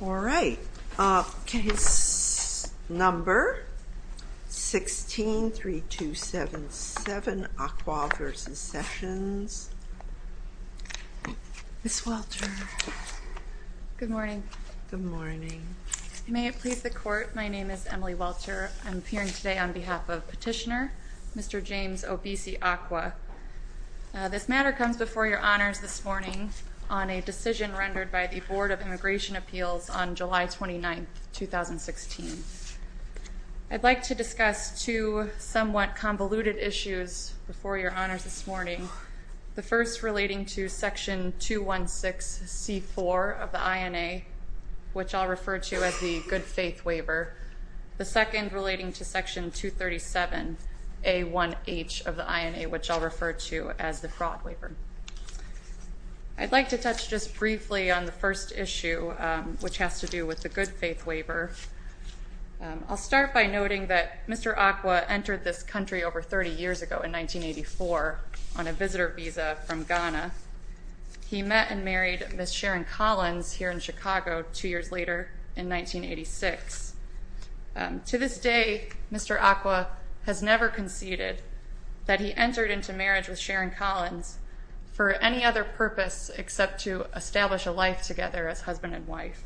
All right. Case number 16-3277, Acquaah v. Sessions. Ms. Welcher. Good morning. Good morning. May it please the Court, my name is Emily Welcher. I'm appearing today on behalf of Petitioner, Mr. James Obese Acquaah. This matter comes before your honors this morning on a decision rendered by the Board of Immigration Appeals on July 29, 2016. I'd like to discuss two somewhat convoluted issues before your honors this morning. The first relating to Section 216C4 of the INA, which I'll refer to as the Good Faith Waiver. The second relating to Section 237A1H of the INA, which I'll refer to as the Fraud Waiver. I'd like to touch just briefly on the first issue, which has to do with the Good Faith Waiver. I'll start by noting that Mr. Acquaah entered this country over 30 years ago in 1984 on a visitor visa from Ghana. He met and married Ms. Sharon Collins here in Chicago two years later in 1986. To this day, Mr. Acquaah has never conceded that he entered into marriage with Sharon Collins for any other purpose except to establish a life together as husband and wife.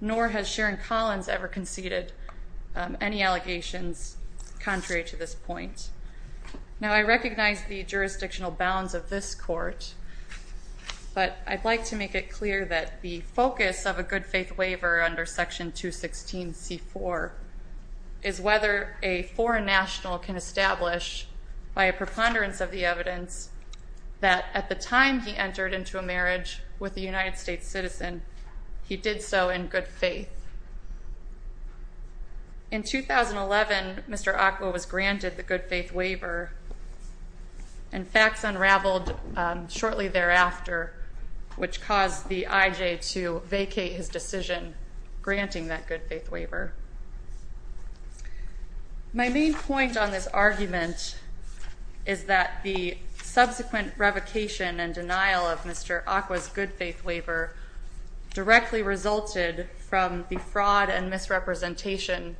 Nor has Sharon Collins ever conceded any allegations contrary to this point. Now, I recognize the jurisdictional bounds of this court, but I'd like to make it clear that the focus of a Good Faith Waiver under Section 216C4 is whether a foreign national can establish by a preponderance of the evidence that at the time he entered into a marriage with a United States citizen, he did so in good faith. In 2011, Mr. Acquaah was granted the Good Faith Waiver, and facts unraveled shortly thereafter, which caused the IJ to vacate his decision granting that Good Faith Waiver. My main point on this argument is that the subsequent revocation and denial of Mr. Acquaah's Good Faith Waiver directly resulted from the fraud and misrepresentation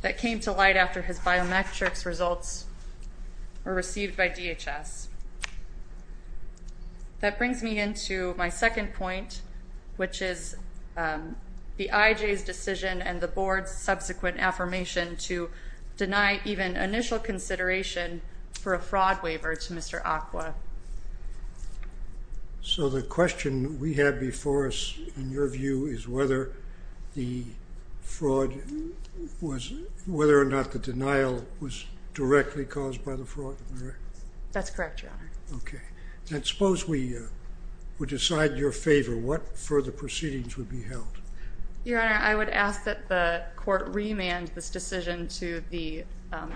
that came to light after his biometrics results were received by DHS. That brings me into my second point, which is the IJ's decision and the Board's subsequent affirmation to deny even initial consideration for a fraud waiver to Mr. Acquaah. So the question we have before us, in your view, is whether or not the denial was directly caused by the fraud? That's correct, Your Honor. Okay. And suppose we would decide in your favor what further proceedings would be held? Your Honor, I would ask that the court remand this decision to the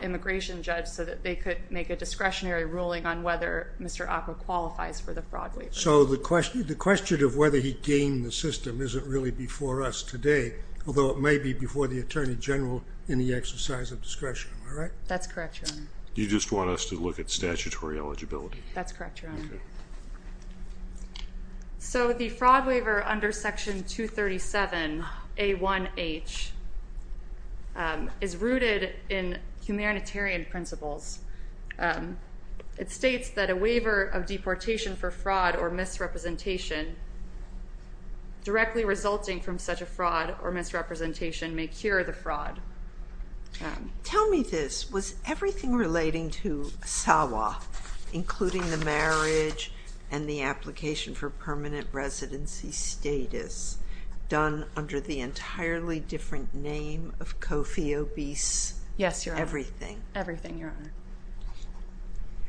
immigration judge so that they could make a discretionary ruling on whether Mr. Acquaah qualifies for the fraud waiver. So the question of whether he gained the system isn't really before us today, although it may be before the Attorney General in the exercise of discretion, am I right? That's correct, Your Honor. You just want us to look at statutory eligibility? That's correct, Your Honor. So the fraud waiver under Section 237A1H is rooted in humanitarian principles. It states that a waiver of deportation for fraud or misrepresentation directly resulting from such a fraud or misrepresentation may cure the fraud. Tell me this. Was everything relating to Asawa, including the marriage and the application for permanent residency status, done under the entirely different name of Kofi Obese? Yes, Your Honor. Everything? Everything, Your Honor.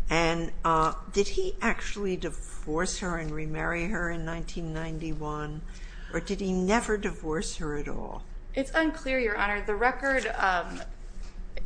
And did he actually divorce her and remarry her in 1991, or did he never divorce her at all? It's unclear, Your Honor.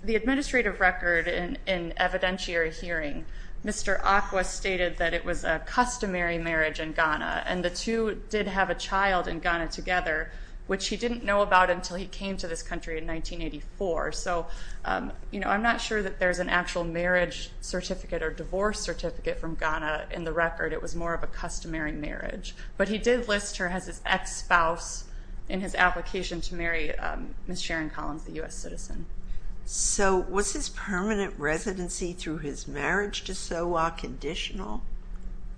The administrative record in evidentiary hearing, Mr. Acquaah stated that it was a customary marriage in Ghana, and the two did have a child in Ghana together, which he didn't know about until he came to this country in 1984. So I'm not sure that there's an actual marriage certificate or divorce certificate from Ghana in the record. It was more of a customary marriage. But he did list her as his ex-spouse in his application to marry Ms. Sharon Collins, a U.S. citizen. So was his permanent residency through his marriage to Asawa conditional?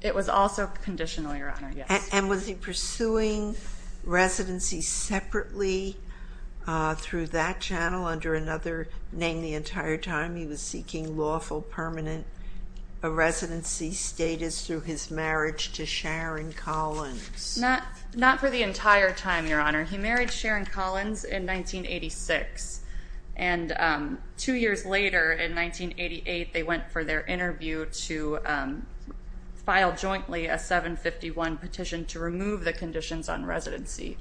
It was also conditional, Your Honor, yes. And was he pursuing residency separately through that channel under another name the entire time? He was seeking lawful permanent residency status through his marriage to Sharon Collins. Not for the entire time, Your Honor. He married Sharon Collins in 1986, and two years later, in 1988, they went for their interview to file jointly a 751 petition to remove the conditions on residency.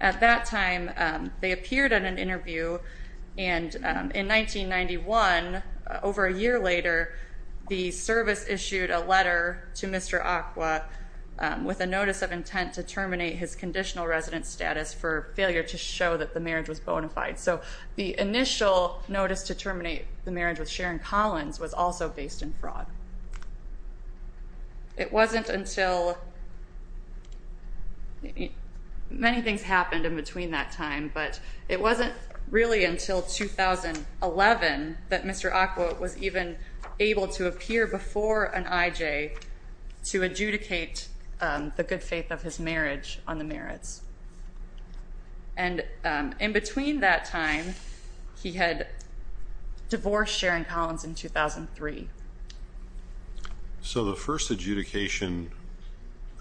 At that time, they appeared at an interview, and in 1991, over a year later, the service issued a letter to Mr. Acquaah with a notice of intent to terminate his conditional resident status for failure to show that the marriage was bona fide. So the initial notice to terminate the marriage with Sharon Collins was also based in fraud. It wasn't until many things happened in between that time, but it wasn't really until 2011 that Mr. Acquaah was even able to appear before an IJ to adjudicate the good faith of his marriage on the merits. And in between that time, he had divorced Sharon Collins in 2003. So the first adjudication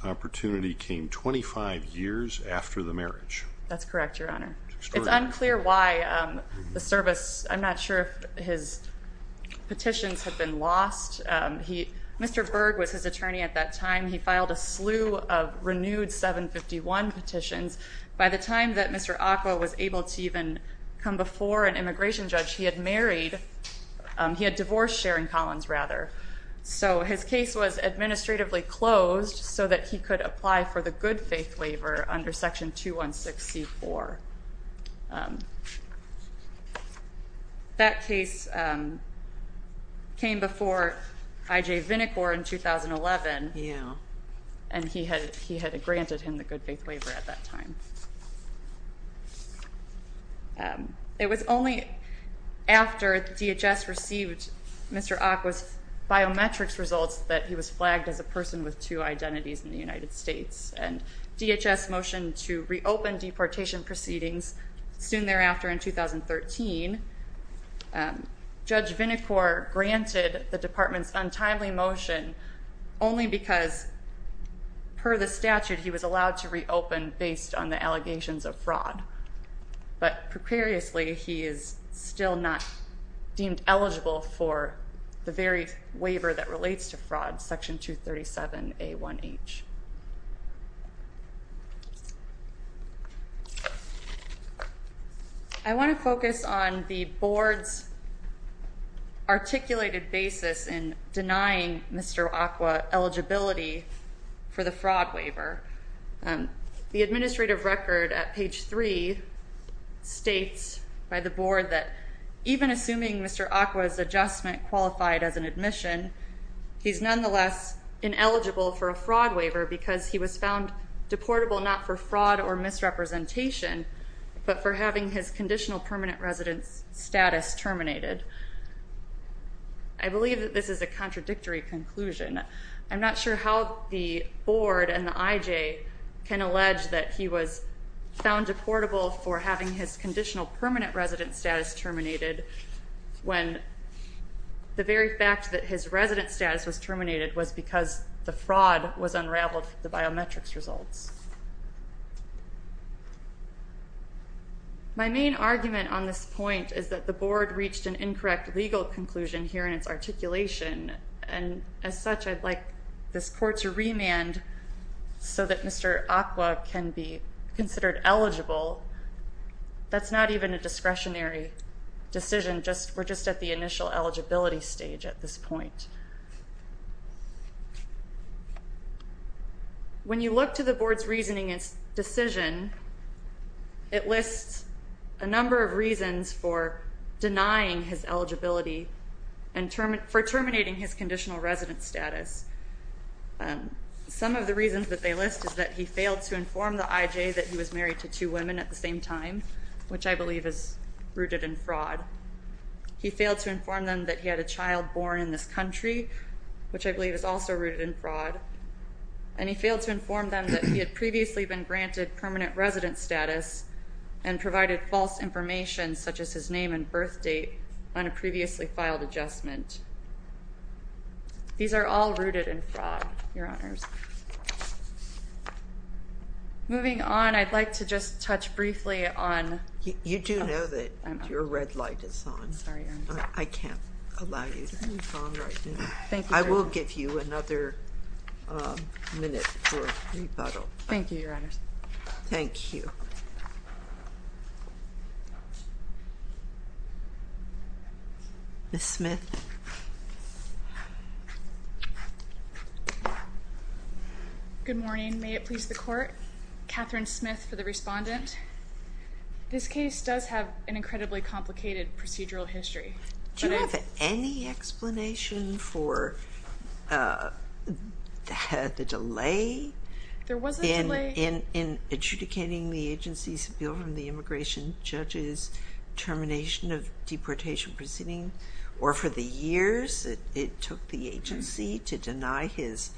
opportunity came 25 years after the marriage. That's correct, Your Honor. It's unclear why the service, I'm not sure if his petitions have been lost. Mr. Berg was his attorney at that time. He filed a slew of renewed 751 petitions. By the time that Mr. Acquaah was able to even come before an immigration judge, he had married, he had divorced Sharon Collins, rather. So his case was administratively closed so that he could apply for the good faith waiver under Section 216C4. That case came before IJ Vinicor in 2011, and he had granted him the good faith waiver at that time. It was only after DHS received Mr. Acquaah's biometrics results that he was flagged as a person with two identities in the United States. And DHS motioned to reopen deportation proceedings. Soon thereafter, in 2013, Judge Vinicor granted the department's untimely motion only because, per the statute, he was allowed to reopen based on the allegations of fraud. But precariously, he is still not deemed eligible for the very waiver that relates to fraud, Section 237A1H. I want to focus on the Board's articulated basis in denying Mr. Acquaah eligibility for the fraud waiver. The administrative record at page 3 states by the Board that, even assuming Mr. Acquaah's adjustment qualified as an admission, he's nonetheless ineligible for a fraud waiver because he was found deportable not for fraud or misrepresentation, but for having his conditional permanent residence status terminated. I believe that this is a contradictory conclusion. I'm not sure how the Board and the IJ can allege that he was found deportable for having his conditional permanent residence status terminated when the very fact that his residence status was terminated was because the fraud was unraveled from the biometrics results. My main argument on this point is that the Board reached an incorrect legal conclusion here in its articulation, and as such, I'd like this Court to remand so that Mr. Acquaah can be considered eligible. That's not even a discretionary decision. We're just at the initial eligibility stage at this point. When you look to the Board's reasoning and decision, it lists a number of reasons for denying his eligibility and for terminating his conditional residence status. Some of the reasons that they list is that he failed to inform the IJ that he was married to two women at the same time, which I believe is rooted in fraud. He failed to inform them that he had a child born in this country, which I believe is also rooted in fraud, and he failed to inform them that he had previously been granted permanent residence status and provided false information such as his name and birth date on a previously filed adjustment. These are all rooted in fraud, Your Honors. Moving on, I'd like to just touch briefly on... You do know that your red light is on. I'm sorry, Your Honor. I can't allow you to move on right now. Thank you, Your Honor. I will give you another minute for rebuttal. Thank you, Your Honors. Thank you. Ms. Smith? Good morning. May it please the Court? Catherine Smith for the respondent. This case does have an incredibly complicated procedural history. Do you have any explanation for the delay in adjudicating the agency's appeal from the immigration judge's termination of deportation proceeding or for the years it took the agency to deny his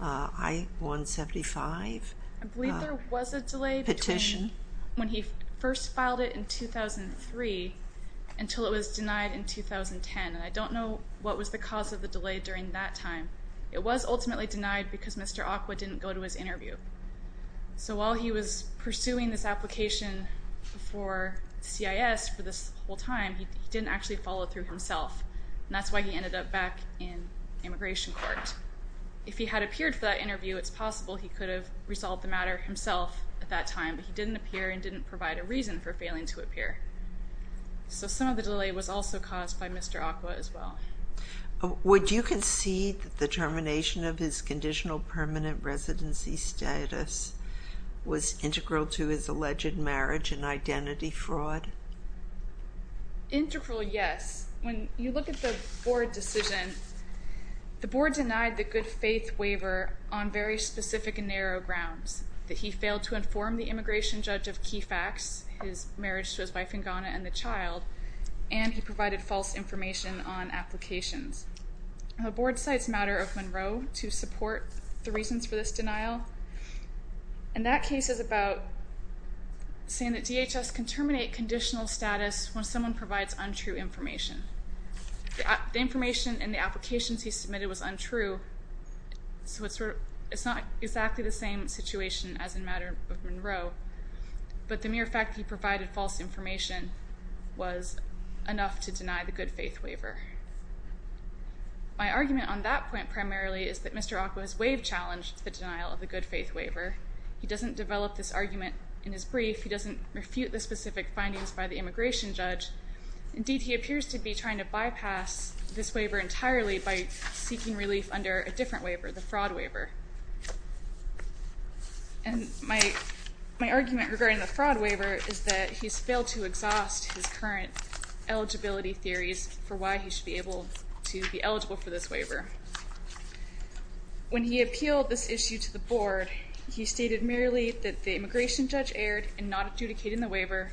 I-175 petition? I believe there was a delay between when he first filed it in 2003 until it was denied in 2010, and I don't know what was the cause of the delay during that time. It was ultimately denied because Mr. Acqua didn't go to his interview. So while he was pursuing this application for CIS for this whole time, he didn't actually follow through himself, and that's why he ended up back in immigration court. If he had appeared for that interview, it's possible he could have resolved the matter himself at that time, but he didn't appear and didn't provide a reason for failing to appear. So some of the delay was also caused by Mr. Acqua as well. Would you concede that the termination of his conditional permanent residency status was integral to his alleged marriage and identity fraud? Integral, yes. When you look at the board decision, the board denied the good faith waiver on very specific and narrow grounds, that he failed to inform the immigration judge of key facts, his marriage to his wife in Ghana and the child, and he provided false information on applications. The board cites matter of Monroe to support the reasons for this denial, and that case is about saying that DHS can terminate conditional status when someone provides untrue information. The information in the applications he submitted was untrue, so it's not exactly the same situation as in matter of Monroe, but the mere fact that he provided false information was enough to deny the good faith waiver. My argument on that point primarily is that Mr. Acqua's waive challenge to the denial of the good faith waiver. He doesn't develop this argument in his brief. He doesn't refute the specific findings by the immigration judge. Indeed, he appears to be trying to bypass this waiver entirely by seeking relief under a different waiver, the fraud waiver. And my argument regarding the fraud waiver is that he's failed to exhaust his current eligibility theories for why he should be able to be eligible for this waiver. When he appealed this issue to the board, he stated merely that the immigration judge erred in not adjudicating the waiver,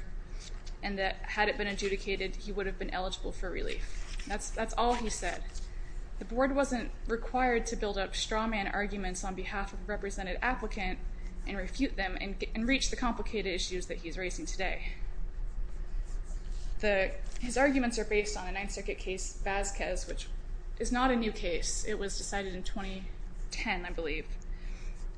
and that had it been adjudicated, he would have been eligible for relief. That's all he said. The board wasn't required to build up straw man arguments on behalf of a represented applicant and refute them and reach the complicated issues that he's raising today. His arguments are based on a Ninth Circuit case, Vasquez, which is not a new case. It was decided in 2010, I believe.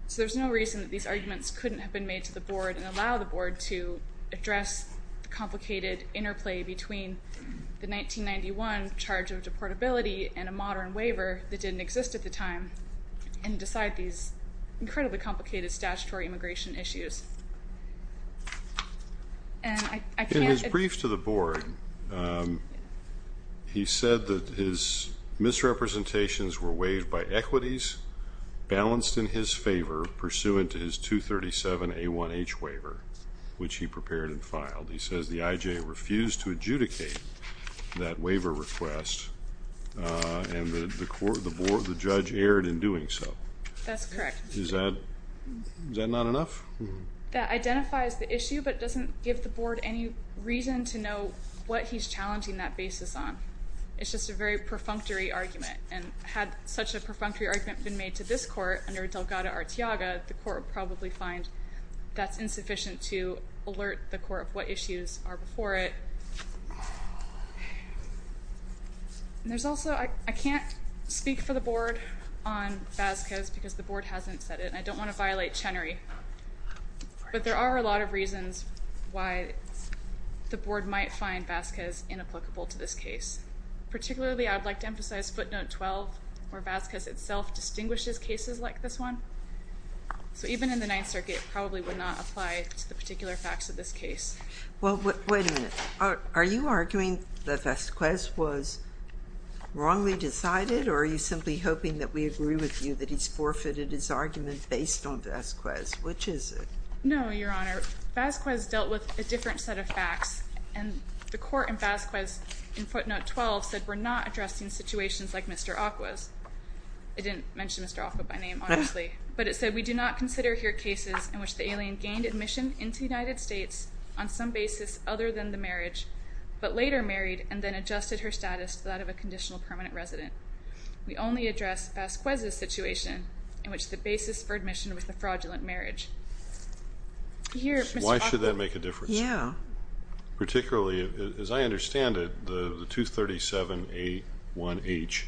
So there's no reason that these arguments couldn't have been made to the board and allow the board to address the complicated interplay between the 1991 charge of deportability and a modern waiver that didn't exist at the time and decide these incredibly complicated statutory immigration issues. In his brief to the board, he said that his misrepresentations were waived by equities balanced in his favor pursuant to his 237A1H waiver, which he prepared and filed. He says the IJ refused to adjudicate that waiver request, and the judge erred in doing so. That's correct. Is that not enough? That identifies the issue, but it doesn't give the board any reason to know what he's challenging that basis on. It's just a very perfunctory argument, and had such a perfunctory argument been made to this court under Delgado-Arteaga, the court would probably find that's insufficient to alert the court of what issues are before it. I can't speak for the board on Vasquez because the board hasn't said it, and I don't want to violate Chenery, but there are a lot of reasons why the board might find Vasquez inapplicable to this case. Particularly, I'd like to emphasize footnote 12, where Vasquez itself distinguishes cases like this one. So even in the Ninth Circuit, it probably would not apply to the particular facts of this case. Well, wait a minute. Are you arguing that Vasquez was wrongly decided, or are you simply hoping that we agree with you that he's forfeited his argument based on Vasquez? Which is it? No, Your Honor. Vasquez dealt with a different set of facts, and the court in Vasquez in footnote 12 said we're not addressing situations like Mr. Acqua's. It didn't mention Mr. Acqua by name, honestly, but it said we do not consider here cases in which the alien gained admission into the United States on some basis other than the marriage, but later married and then adjusted her status to that of a conditional permanent resident. We only address Vasquez's situation in which the basis for admission was a fraudulent marriage. Why should that make a difference? Yeah. Particularly, as I understand it, the 237A1H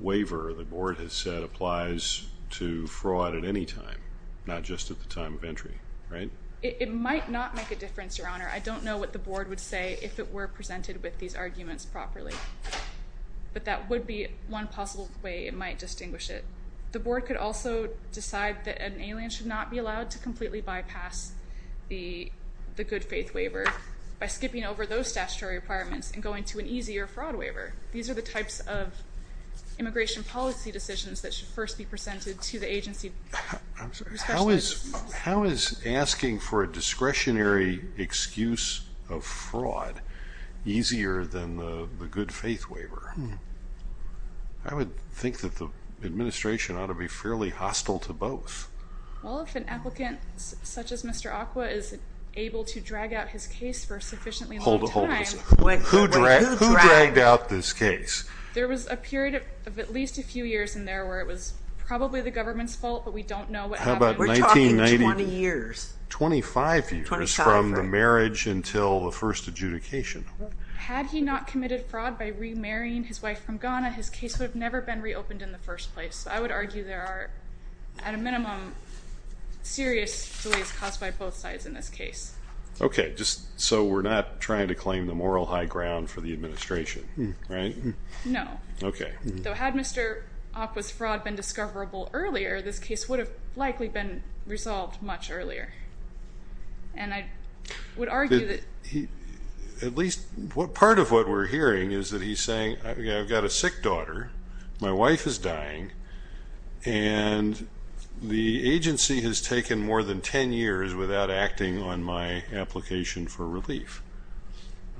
waiver the board has said applies to fraud at any time, not just at the time of entry, right? It might not make a difference, Your Honor. I don't know what the board would say if it were presented with these arguments properly, but that would be one possible way it might distinguish it. The board could also decide that an alien should not be allowed to completely bypass the good faith waiver by skipping over those statutory requirements and going to an easier fraud waiver. These are the types of immigration policy decisions that should first be presented to the agency. I'm sorry. How is asking for a discretionary excuse of fraud easier than the good faith waiver? I would think that the administration ought to be fairly hostile to both. Well, if an applicant such as Mr. Acqua is able to drag out his case for a sufficiently long time. Hold this. Who dragged out this case? There was a period of at least a few years in there where it was probably the government's fault, but we don't know what happened. We're talking 20 years. 25 years from the marriage until the first adjudication. Had he not committed fraud by remarrying his wife from Ghana, his case would have never been reopened in the first place. I would argue there are, at a minimum, serious delays caused by both sides in this case. Okay, so we're not trying to claim the moral high ground for the administration, right? No. Okay. Though had Mr. Acqua's fraud been discoverable earlier, this case would have likely been resolved much earlier. And I would argue that... At least part of what we're hearing is that he's saying, I've got a sick daughter, my wife is dying, and the agency has taken more than 10 years without acting on my application for relief.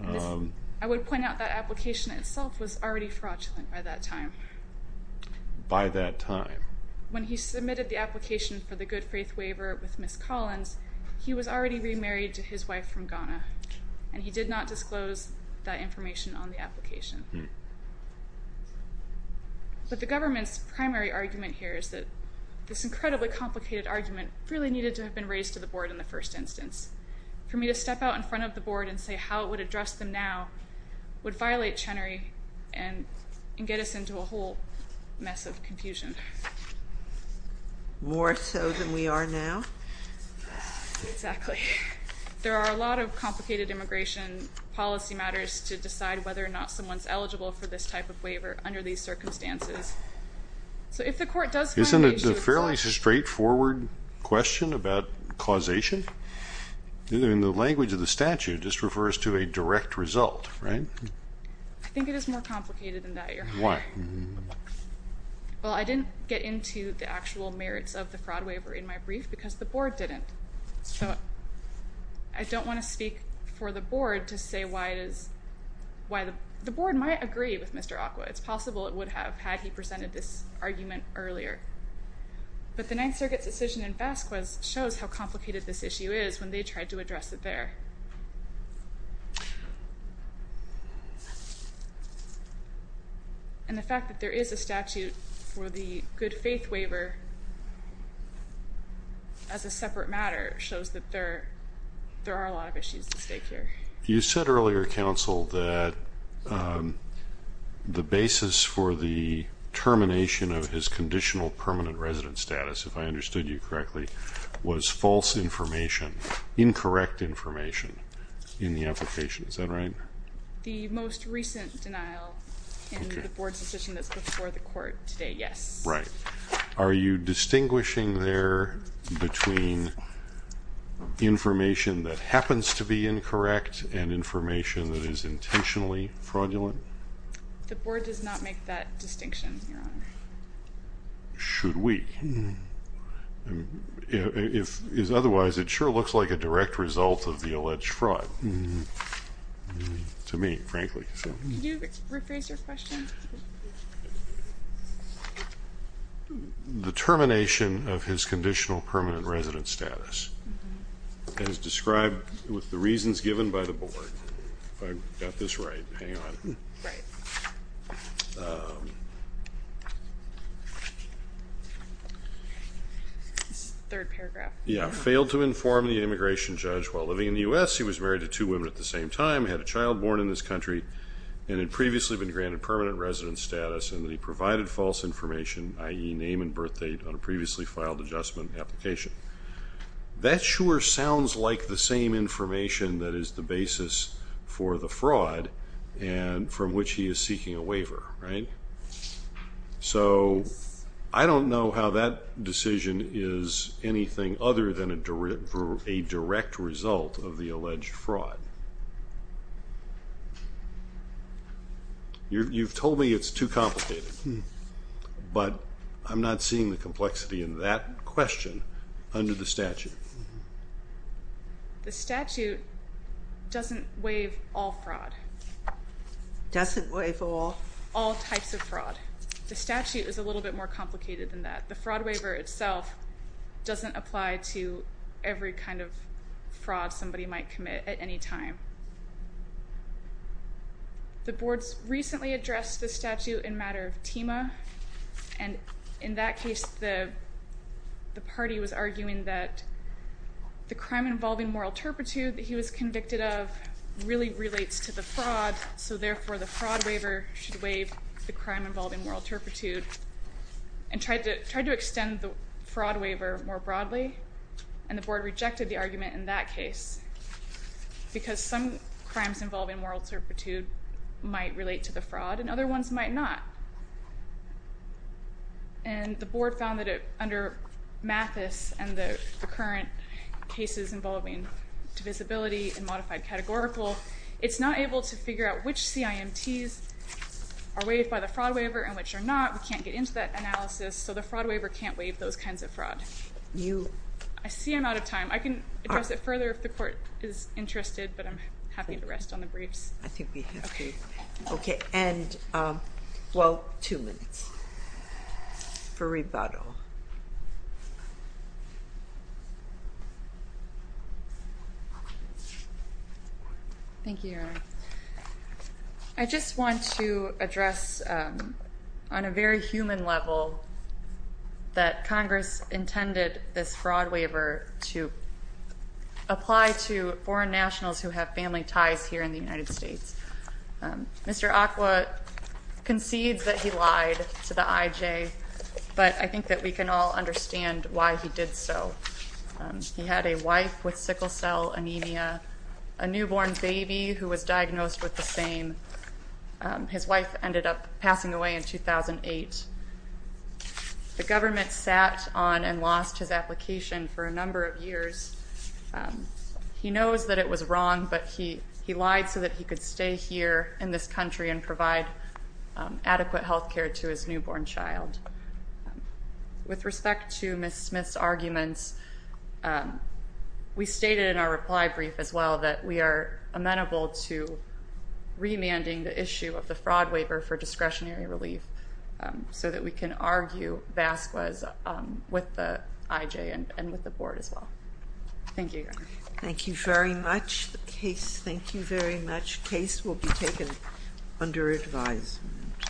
I would point out that application itself was already fraudulent by that time. By that time. When he submitted the application for the good faith waiver with Ms. Collins, he was already remarried to his wife from Ghana, and he did not disclose that information on the application. But the government's primary argument here is that this incredibly complicated argument really needed to have been raised to the board in the first instance. For me to step out in front of the board and say how it would address them now would violate Chenery and get us into a whole mess of confusion. More so than we are now? Exactly. There are a lot of complicated immigration policy matters to decide whether or not someone's eligible for this type of waiver under these circumstances. Isn't it a fairly straightforward question about causation? In the language of the statute, this refers to a direct result, right? I think it is more complicated than that, Your Honor. Why? Well, I didn't get into the actual merits of the fraud waiver in my brief because the board didn't. So I don't want to speak for the board to say why it is... The board might agree with Mr. Acqua. It's possible it would have had he presented this argument earlier. But the Ninth Circuit's decision in Vasquez shows how complicated this issue is when they tried to address it there. And the fact that there is a statute for the good faith waiver as a separate matter shows that there are a lot of issues at stake here. You said earlier, Counsel, that the basis for the termination of his conditional permanent resident status, if I understood you correctly, was false information, incorrect information. In the application, is that right? The most recent denial in the board's decision that's before the court today, yes. Right. Are you distinguishing there between information that happens to be incorrect and information that is intentionally fraudulent? The board does not make that distinction, Your Honor. Should we? If otherwise, it sure looks like a direct result of the alleged fraud to me, frankly. Could you rephrase your question? The termination of his conditional permanent resident status as described with the reasons given by the board. If I got this right, hang on. Right. Third paragraph. Yeah, failed to inform the immigration judge while living in the U.S. He was married to two women at the same time, had a child born in this country, and had previously been granted permanent resident status and that he provided false information, i.e. name and birth date, on a previously filed adjustment application. That sure sounds like the same information that is the basis for the fraud from which he is seeking a waiver, right? So I don't know how that decision is anything other than a direct result of the alleged fraud. You've told me it's too complicated, but I'm not seeing the complexity in that question under the statute. The statute doesn't waive all fraud. Doesn't waive all? All types of fraud. The statute is a little bit more complicated than that. The fraud waiver itself doesn't apply to every kind of fraud somebody might commit at any time. The boards recently addressed the statute in matter of TEMA, and in that case the party was arguing that the crime involving moral turpitude that he was convicted of really relates to the fraud, so therefore the fraud waiver should waive the crime involving moral turpitude and tried to extend the fraud waiver more broadly, and the board rejected the argument in that case because some crimes involving moral turpitude might relate to the fraud and other ones might not. And the board found that under Mathis and the current cases involving divisibility and modified categorical, it's not able to figure out which CIMTs are waived by the fraud waiver and which are not. We can't get into that analysis, so the fraud waiver can't waive those kinds of fraud. I see I'm out of time. I can address it further if the court is interested, but I'm happy to rest on the briefs. I think we have to. Okay. And, well, two minutes for rebuttal. Thank you, Your Honor. I just want to address on a very human level that Congress intended this fraud waiver to apply to foreign nationals who have family ties here in the United States. Mr. Acqua concedes that he lied to the IJ, but I think that we can all understand why he did so. He had a wife with sickle cell anemia, a newborn baby who was diagnosed with the same. His wife ended up passing away in 2008. The government sat on and lost his application for a number of years. He knows that it was wrong, but he lied so that he could stay here in this country and provide adequate health care to his newborn child. With respect to Ms. Smith's arguments, we stated in our reply brief as well that we are amenable to remanding the issue of the fraud waiver for discretionary relief so that we can argue Vasquez with the IJ and with the board as well. Thank you, Your Honor. Thank you very much. The case, thank you very much. Case will be taken under advisement.